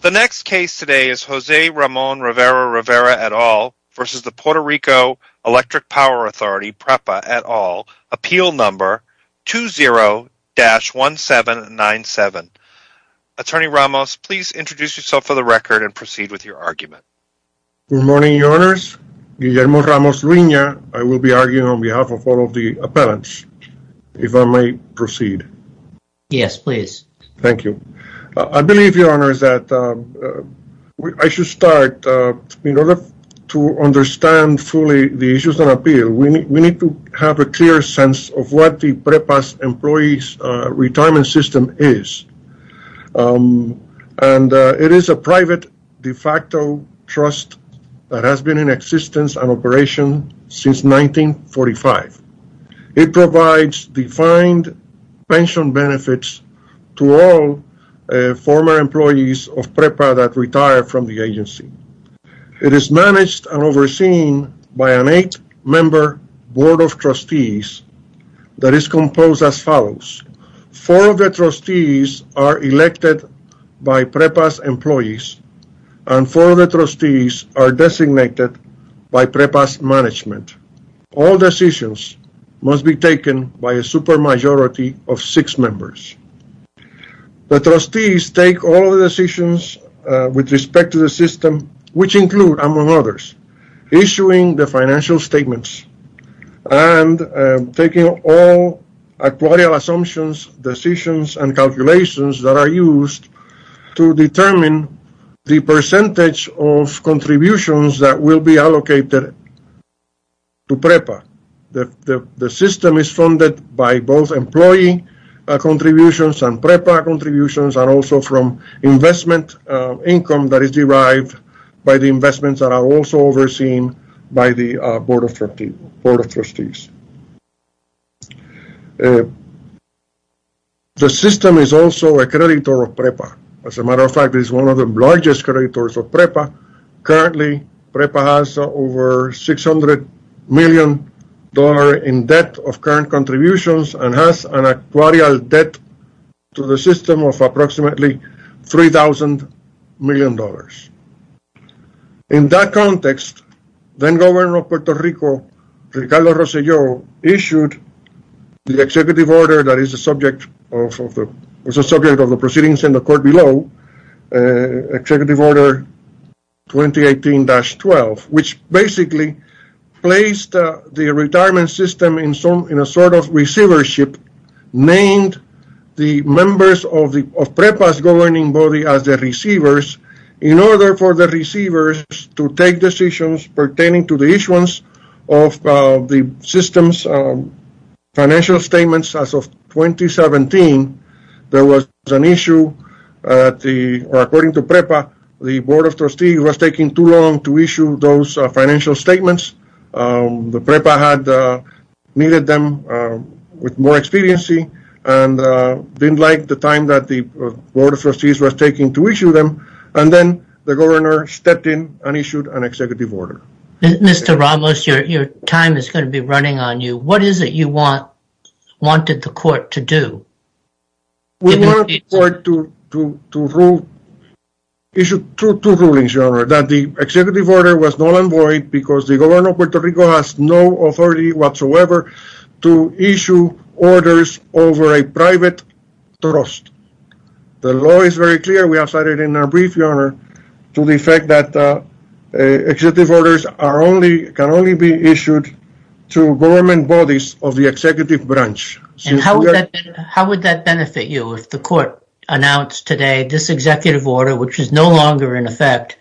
The next case today is Jose Ramon Rivera-Rivera et al. versus the Puerto Rico Electric Power Authority PREPA et al. appeal number 20-1797. Attorney Ramos, please introduce yourself for the record and proceed with your argument. Good morning, your honors. Guillermo Ramos Ruina. I will be arguing on behalf of all of the appellants. If I may proceed. Yes, please. Thank you. I believe your honors that I should start. In order to understand fully the issues on appeal, we need to have a clear sense of what the PREPA's employees retirement system is. And it is a private de facto trust that has been in existence and operation since 1945. It provides defined pension benefits to all former employees of PREPA that retire from the agency. It is managed and overseen by an eight-member board of trustees that is composed as follows. Four of the trustees are elected by PREPA's employees and four of the trustees are designated by PREPA's management. All decisions must be taken by a super members. The trustees take all the decisions with respect to the system which include, among others, issuing the financial statements and taking all according assumptions, decisions, and calculations that are used to determine the percentage of contributions that will be allocated to PREPA. The system is funded by both employee contributions and PREPA contributions and also from investment income that is derived by the investments that are also overseen by the board of trustees. The system is also a creditor of PREPA. As a matter of fact, it is one of the largest creditors of PREPA. Currently, PREPA has over $600 million in debt of current contributions and has an actuarial debt to the system of approximately $3,000 million. In that context, then-governor of Puerto Rico, Ricardo Rosselló, issued the executive order that is a subject of the proceedings in the court below, Executive Order 2018-12, which basically placed the retirement system in a sort of receivership, named the members of PREPA's governing body as the receivers in order for the receivers to take decisions pertaining to the issuance of the system's financial statements. As of 2017, there was an issue. According to PREPA, the board of trustees was taking too long to issue those financial statements. The PREPA had needed them with more expediency and didn't like the time that the board of trustees was taking to issue them and then the governor stepped in and issued an executive order. Mr. Ramos, your time is going to be running on you. What is it you wanted the court to do? We wanted the court to issue two rulings, your honor, that the executive order was null and void because the governor of Puerto Rico has no authority whatsoever to issue orders over a private trust. The law is very clear. We have cited in our can only be issued to government bodies of the executive branch. How would that benefit you if the court announced today this executive order, which is no longer in effect,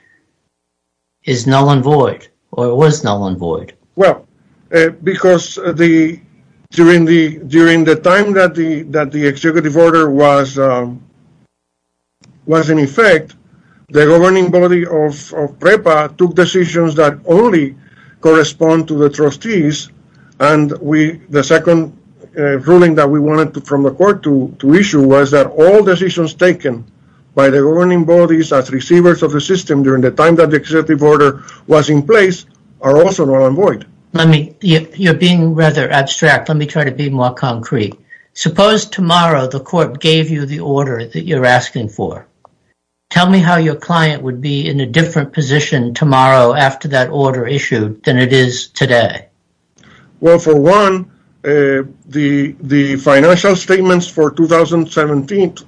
is null and void or was null and void? Well, because during the time that the executive order was in effect, the governing body of the board of trustees and the second ruling that we wanted from the court to issue was that all decisions taken by the governing bodies as receivers of the system during the time that the executive order was in place are also null and void. You're being rather abstract. Let me try to be more concrete. Suppose tomorrow the court gave you the order that you're asking for. Tell me how your client would be in a different position tomorrow after that order issued than it is today. Well, for one, the financial statements for 2017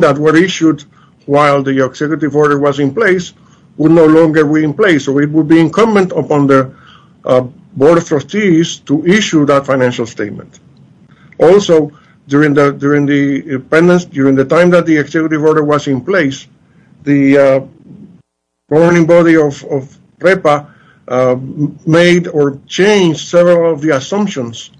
that were issued while the executive order was in place would no longer be in place, so it would be incumbent upon the board of trustees to issue that financial statement. Also, during the time that the made or changed several of the assumptions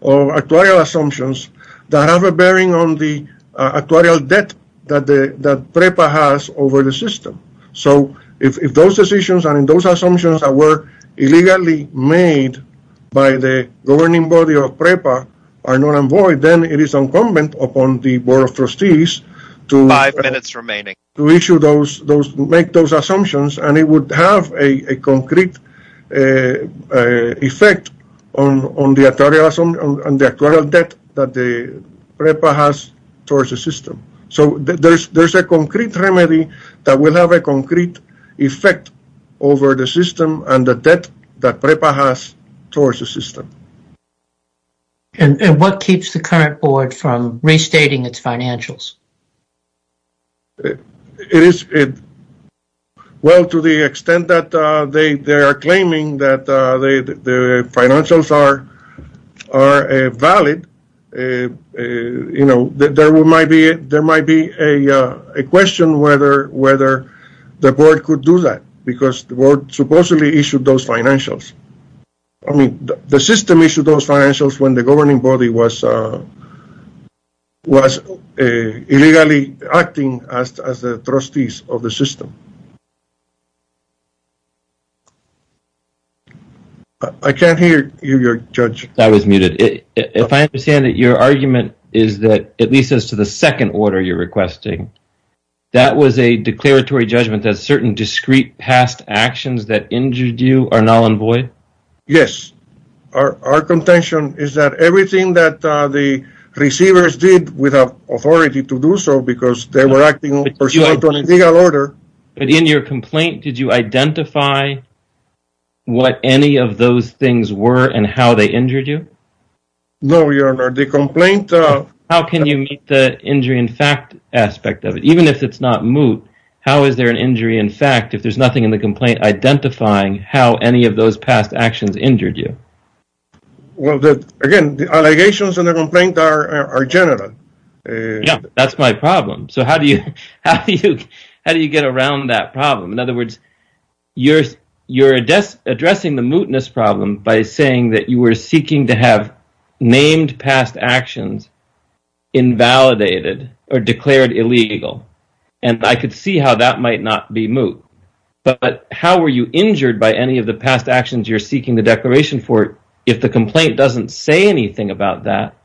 or actual assumptions that have a bearing on the actual debt that PREPA has over the system. So if those decisions and those assumptions that were illegally made by the governing body of PREPA are null and void, then it is incumbent upon the board of trustees to issue those, make those assumptions, and it would have a concrete effect on the actual debt that PREPA has towards the system. So there's a concrete remedy that will have a concrete effect over the system and the debt that PREPA has towards the system. And what keeps the current board from restating its financials? It is, well, to the extent that they are claiming that the financials are valid, you know, there might be a question whether the board could do that because the board supposedly issued those financials. I mean, the system issued those financials when the governing body was illegally acting as the trustees of the system. I can't hear you, your judge. I was muted. If I understand it, your argument is that, at least as to the second order you're requesting, that was a declaratory judgment that certain discrete past actions that injured you are null and void? Yes. Our contention is that everything that the receivers did without authority to do so because they were acting on a legal order. But in your complaint, did you identify what any of those things were and how they injured you? No, your honor. The complaint... How can you meet the injury in fact aspect of it? Even if it's not moot, how is there an complaint identifying how any of those past actions injured you? Well, again, the allegations in the complaint are general. Yeah, that's my problem. So, how do you get around that problem? In other words, you're addressing the mootness problem by saying that you were seeking to have named past actions invalidated or declared illegal, and I could see how that might not be moot. But how were you injured by any of the past actions you're seeking the declaration for? If the complaint doesn't say anything about that,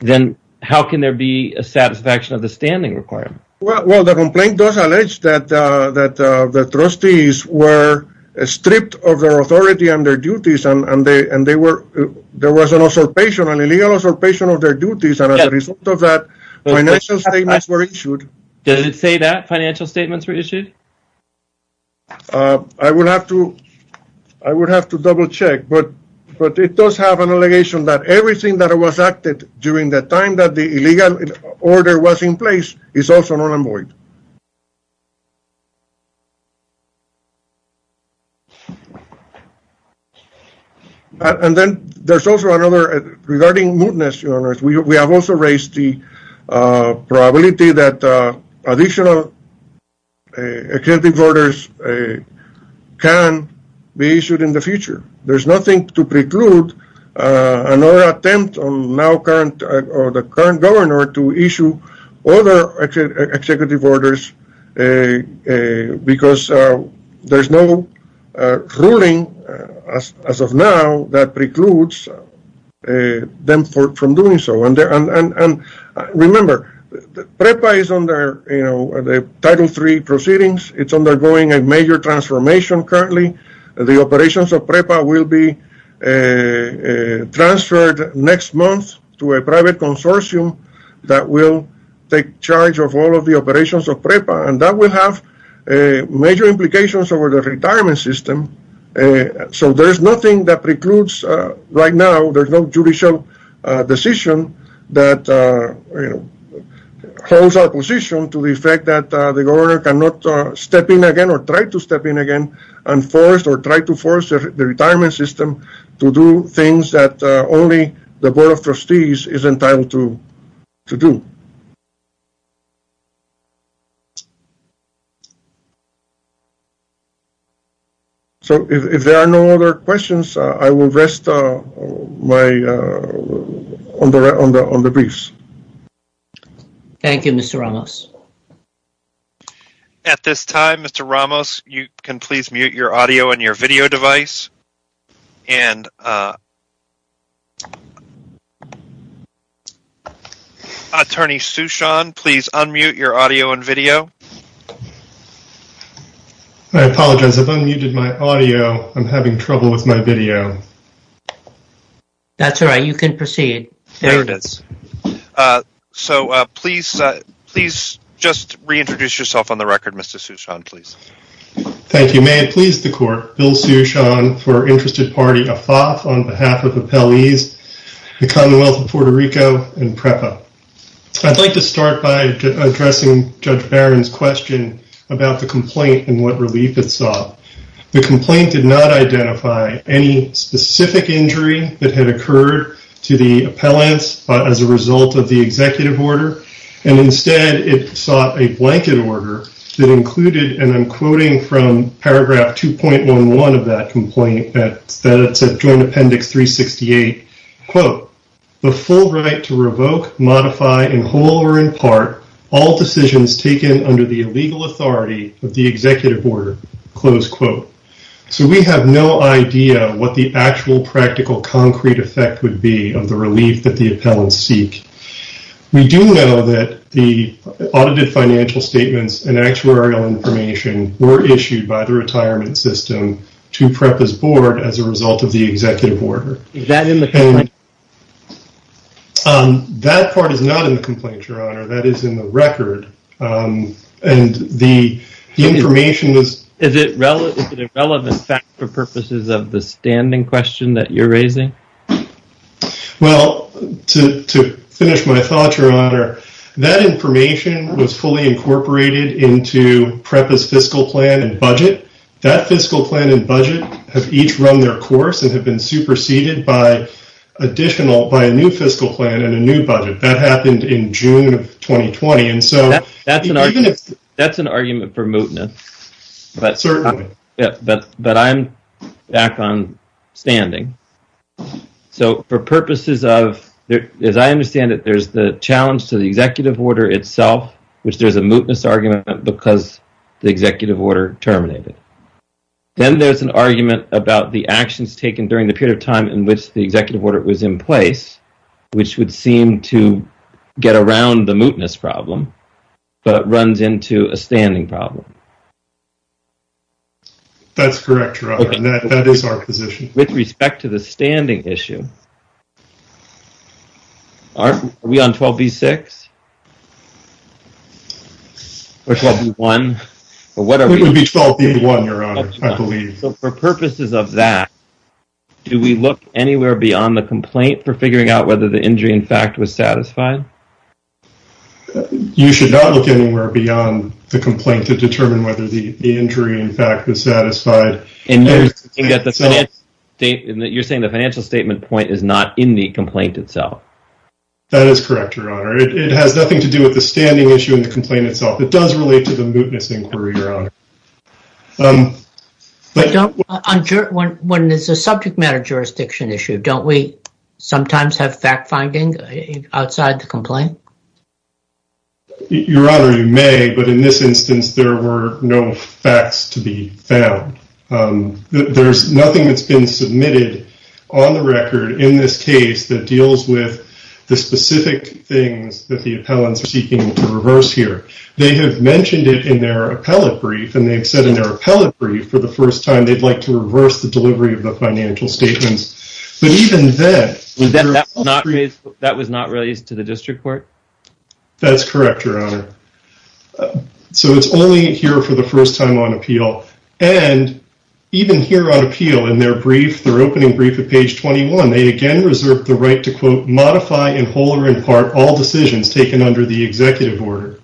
then how can there be a satisfaction of the standing requirement? Well, the complaint does allege that the trustees were stripped of their authority and their duties, and there was an illegal usurpation of their duties, and as a result of that, financial statements were issued. I would have to double-check, but it does have an allegation that everything that was acted during the time that the illegal order was in place is also not unvoid. And then there's also another, regarding mootness, your honor, we have also raised the probability that additional executive orders can be issued in the future. There's nothing to preclude another attempt on the current governor to issue other executive orders, because there's no ruling, as of now, that precludes them from doing so. And remember, PREPA is under the Title III proceedings. It's undergoing a major transformation currently. The operations of PREPA will be transferred next month to a private consortium that will take charge of all of the operations of PREPA, and that will have major implications over the retirement system. So there's nothing that precludes, right now, there's no judicial decision that holds our position to the effect that the governor cannot step in again, or try to step in again, and force or try to force the retirement system to do things that only the Board of Trustees is entitled to do. So, if there are no other questions, I will rest on the briefs. Thank you, Mr. Ramos. At this time, Mr. Ramos, you can please mute your audio and your video device, and Attorney Sushant, please unmute your audio and video. I apologize. I've unmuted my audio. I'm having trouble with my video. That's all right. You can proceed. There it is. So, please just reintroduce yourself on the record. My name is Bill Sushant, for Interested Party Afaf, on behalf of appellees, the Commonwealth of Puerto Rico, and PREPA. I'd like to start by addressing Judge Barron's question about the complaint and what relief it saw. The complaint did not identify any specific injury that had occurred to the appellants as a result of the executive order, and instead, it sought a blanket order that that's at Joint Appendix 368, quote, the full right to revoke, modify, in whole or in part, all decisions taken under the legal authority of the executive order, close quote. So, we have no idea what the actual practical concrete effect would be of the relief that the appellants seek. We do know that the audited financial statements and actuarial information were issued by the to PREPA's board as a result of the executive order. Is that in the complaint? That part is not in the complaint, Your Honor. That is in the record, and the information is... Is it relevant fact for purposes of the standing question that you're raising? Well, to finish my thought, Your Honor, that information was fully incorporated into PREPA's fiscal plan and budget. That fiscal plan and budget have each run their course and have been superseded by additional, by a new fiscal plan and a new budget. That happened in June of 2020, and so... That's an argument for mootness, but I'm back on standing. So, for purposes of... As I understand it, there's the challenge to the executive order itself, which there's a mootness argument because the executive order terminated. Then there's an argument about the actions taken during the period of time in which the executive order was in place, which would seem to get around the mootness problem, but runs into a standing problem. That's correct, Your Honor, and that is our position. With respect to the standing issue, are we on 12B-6? Or 12B-1? It would be 12B-1, Your Honor, I believe. So, for purposes of that, do we look anywhere beyond the complaint for figuring out whether the injury, in fact, was satisfied? You should not look anywhere beyond the complaint to determine whether the injury, in fact, was satisfied. And you're saying the financial statement point is not in the complaint itself? That is correct, Your Honor. It has nothing to do with the standing issue in the complaint itself. It does relate to the mootness inquiry, Your Honor. When it's a subject matter jurisdiction issue, don't we sometimes have fact-finding outside the complaint? Your Honor, you may, but in this instance, there were no facts to be found. There's nothing that's been submitted on the record in this case that deals with the specific things that the appellants are seeking to reverse here. They have mentioned it in their appellate brief, and they've said in their appellate brief, for the first time, they'd like to reverse the delivery of the financial statements. But even then... That was not released to the district court? That's correct, Your Honor. So it's only here for the first time on appeal. And even here on appeal, in their brief, their opening brief at page 21, they again reserved the right to, quote, modify in whole or in part all decisions taken under the executive order.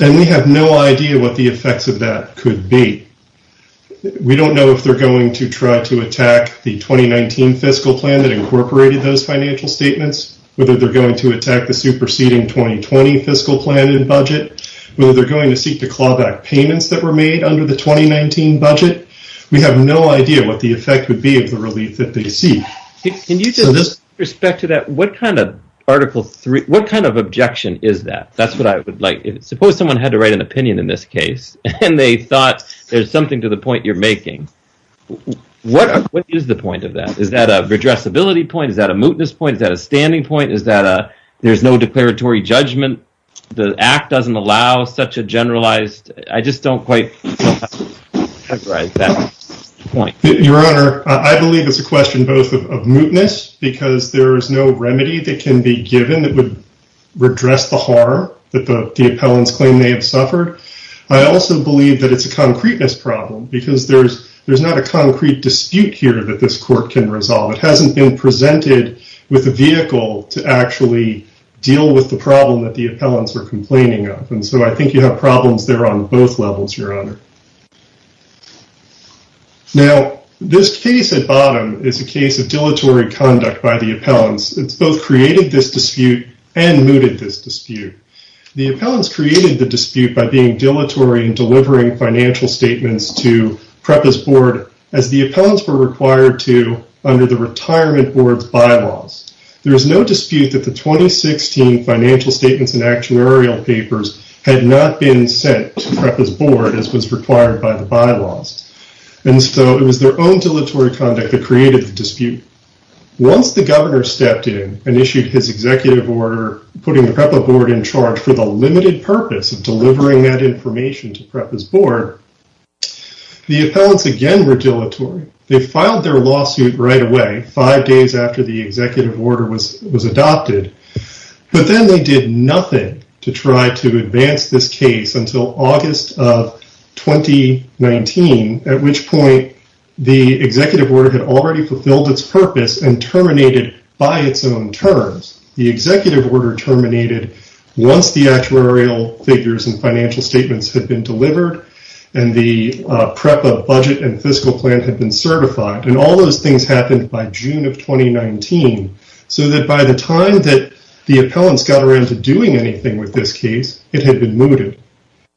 And we have no idea what the effects of that could be. We don't know if they're going to try to whether they're going to attack the superseding 2020 fiscal plan and budget, whether they're going to seek to claw back payments that were made under the 2019 budget. We have no idea what the effect would be of the relief that they seek. Can you just, with respect to that, what kind of Article 3, what kind of objection is that? That's what I would like. Suppose someone had to write an opinion in this case, and they thought there's something to the point you're making. What is the point of that? Is that a redressability point? Is that a standing point? Is that a there's no declaratory judgment? The Act doesn't allow such a generalized... I just don't quite have that point. Your Honor, I believe it's a question both of mootness, because there is no remedy that can be given that would redress the harm that the appellants claim they have suffered. I also believe that it's a concreteness problem, because there's there's not a concrete dispute here that this court can resolve. It hasn't been presented with a vehicle to actually deal with the problem that the appellants were complaining of, and so I think you have problems there on both levels, Your Honor. Now, this case at bottom is a case of dilatory conduct by the appellants. It's both created this dispute and mooted this dispute. The appellants created the dispute by being dilatory in delivering financial statements to PREPA's board, as the appellants were required to under the Retirement Board's bylaws. There is no dispute that the 2016 financial statements and actuarial papers had not been sent to PREPA's board as was required by the bylaws, and so it was their own dilatory conduct that created the dispute. Once the governor stepped in and issued his executive order putting the PREPA board in charge for the limited purpose of delivering that information to PREPA's board, the filed their lawsuit right away, five days after the executive order was adopted, but then they did nothing to try to advance this case until August of 2019, at which point the executive order had already fulfilled its purpose and terminated by its own terms. The executive order terminated once the actuarial figures and financial statements had been delivered and the PREPA budget and fiscal plan had been certified, and all those things happened by June of 2019, so that by the time that the appellants got around to doing anything with this case, it had been mooted.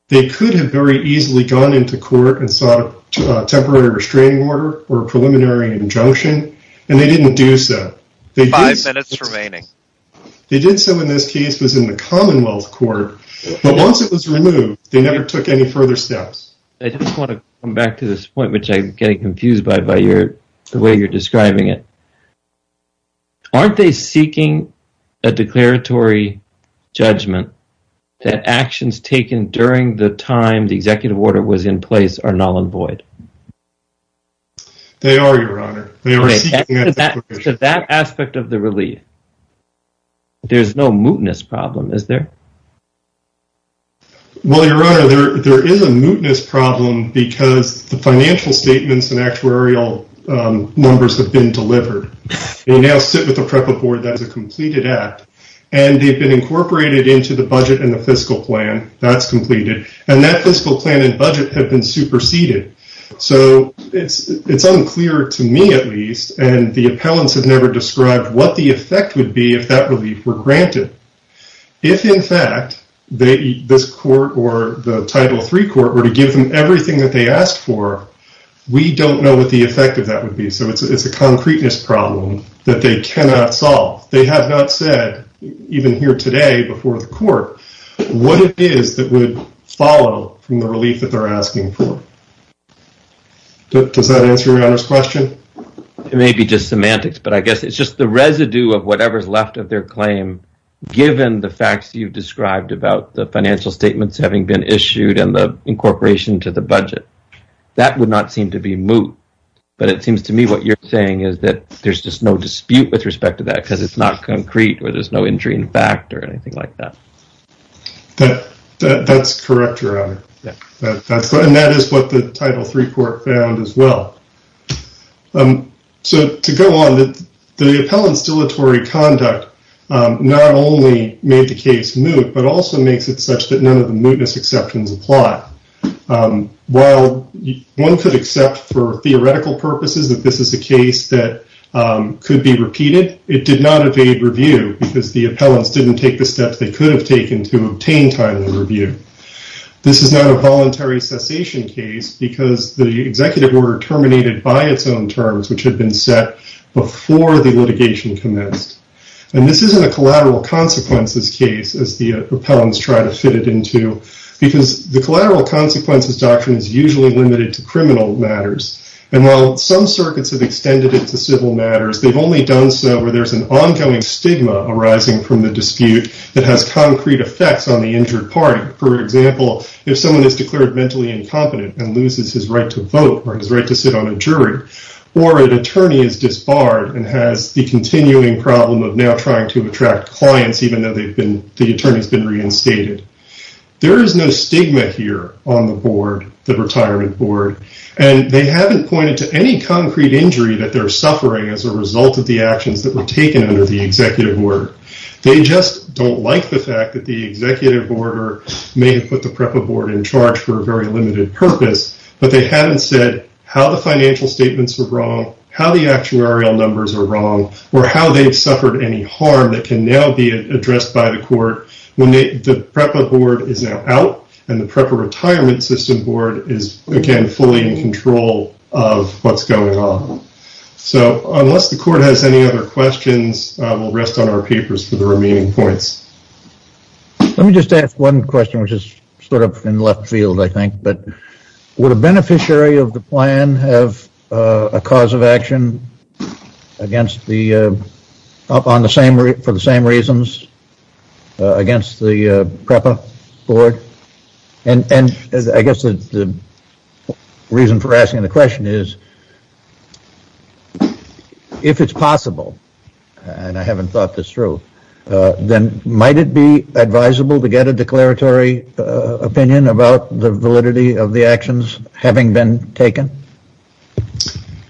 They could have very easily gone into court and sought a temporary restraining order or a preliminary injunction, and they didn't do so. Five minutes remaining. They did so in this case was in the Commonwealth Court, but once it was removed, they never took any back to this point, which I'm getting confused by the way you're describing it. Aren't they seeking a declaratory judgment that actions taken during the time the executive order was in place are null and void? They are, Your Honor. To that aspect of the relief, there's no mootness problem, is there? Well, Your Honor, there is a mootness problem because the financial statements and actuarial numbers have been delivered. They now sit with the PREPA board as a completed act, and they've been incorporated into the budget and the fiscal plan. That's completed, and that fiscal plan and budget have been superseded, so it's unclear to me at least, and the appellants have never described what the effect would be if that relief were to be denied. If in fact, this court or the Title III court were to give them everything that they asked for, we don't know what the effect of that would be, so it's a concreteness problem that they cannot solve. They have not said, even here today before the court, what it is that would follow from the relief that they're asking for. Does that answer Your Honor's question? It may be just semantics, but I guess it's just the residue of whatever's left of their described about the financial statements having been issued and the incorporation to the budget. That would not seem to be moot, but it seems to me what you're saying is that there's just no dispute with respect to that because it's not concrete or there's no injury in fact or anything like that. That's correct, Your Honor, and that is what the Title III court found as well. So to go on, the appellant's dilatory conduct not only made the case moot, but also makes it such that none of the mootness exceptions apply. While one could accept for theoretical purposes that this is a case that could be repeated, it did not evade review because the appellants didn't take the steps they could have taken to obtain timely review. This is not a voluntary cessation case because the executive order terminated by its own terms, which had been set before the litigation commenced. And this isn't a collateral consequences case, as the appellants try to fit it into, because the collateral consequences doctrine is usually limited to criminal matters. And while some circuits have extended it to civil matters, they've only done so where there's an ongoing stigma arising from the dispute that has concrete effects on the injured party. For example, if someone is declared mentally incompetent and loses his right to vote or his right to sit on a jury, or an attorney is disbarred and has the continuing problem of now trying to attract clients even though the attorney's been reinstated. There is no stigma here on the board, the retirement board, and they haven't pointed to any concrete injury that they're suffering as a result of the actions that were taken under the executive order may have put the PREPA board in charge for a very limited purpose, but they haven't said how the financial statements were wrong, how the actuarial numbers are wrong, or how they've suffered any harm that can now be addressed by the court when the PREPA board is now out and the PREPA retirement system board is again fully in control of what's going on. So unless the court has any other questions, we'll rest on our papers for the remaining courts. Let me just ask one question which is sort of in left field I think, but would a beneficiary of the plan have a cause of action against the, up on the same, for the same reasons against the PREPA board? And I guess the reason for asking the question is, if it's possible, and I haven't thought this through, then might it be advisable to get a declaratory opinion about the validity of the actions having been taken?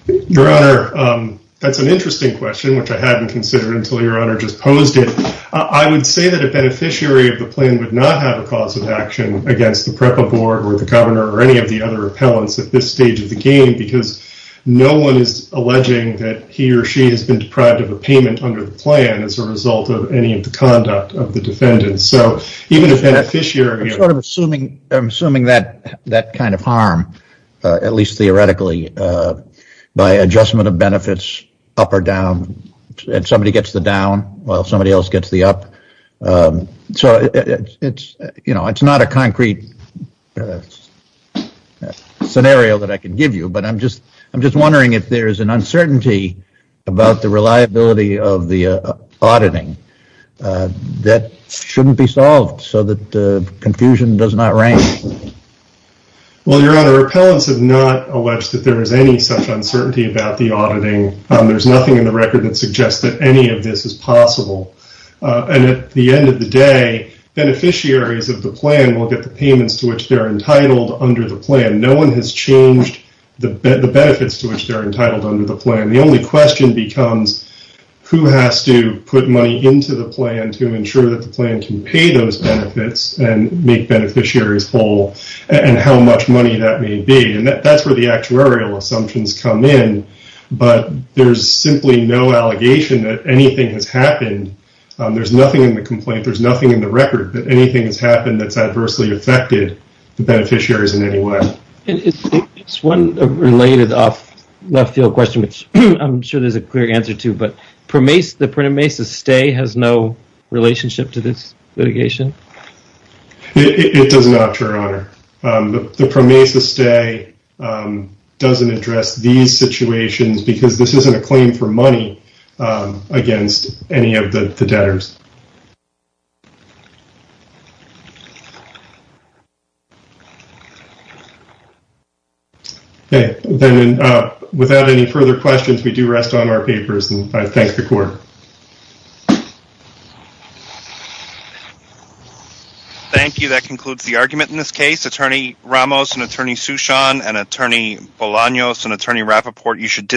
Your Honor, that's an interesting question which I hadn't considered until your honor just posed it. I would say that a beneficiary of the plan would not have a cause of action against the PREPA board or the governor or any of the other appellants at this stage of the game because no one is alleging that he or she has been deprived of a payment under the plan as a result of any of the conduct of the defendant. So even if a beneficiary... I'm assuming that kind of harm, at least theoretically, by adjustment of benefits up or down, and somebody gets the down while somebody else gets the up. So it's, you know, it's not a concrete scenario that I can give you, but I'm just I'm just wondering if there is an uncertainty about the liability of the auditing that shouldn't be solved so that confusion does not reign. Well, Your Honor, appellants have not alleged that there is any such uncertainty about the auditing. There's nothing in the record that suggests that any of this is possible, and at the end of the day, beneficiaries of the plan will get the payments to which they're entitled under the plan. No one has changed the benefits to which they're entitled under the plan. The only question becomes who has to put money into the plan to ensure that the plan can pay those benefits and make beneficiaries whole, and how much money that may be. And that's where the actuarial assumptions come in, but there's simply no allegation that anything has happened. There's nothing in the complaint, there's nothing in the record that anything has happened that's adversely affected the beneficiaries in any way. It's one related off-field question, which I'm sure there's a clear answer to, but the PROMESA stay has no relationship to this litigation? It does not, Your Honor. The PROMESA stay doesn't address these situations because this isn't a claim for money against any of the debtors. Okay, then without any further questions, we do rest on our papers and I thank the Court. Thank you. That concludes the argument in this case. Attorney Ramos and Attorney Sushant and Attorney Bolaños and Attorney Rappaport, you should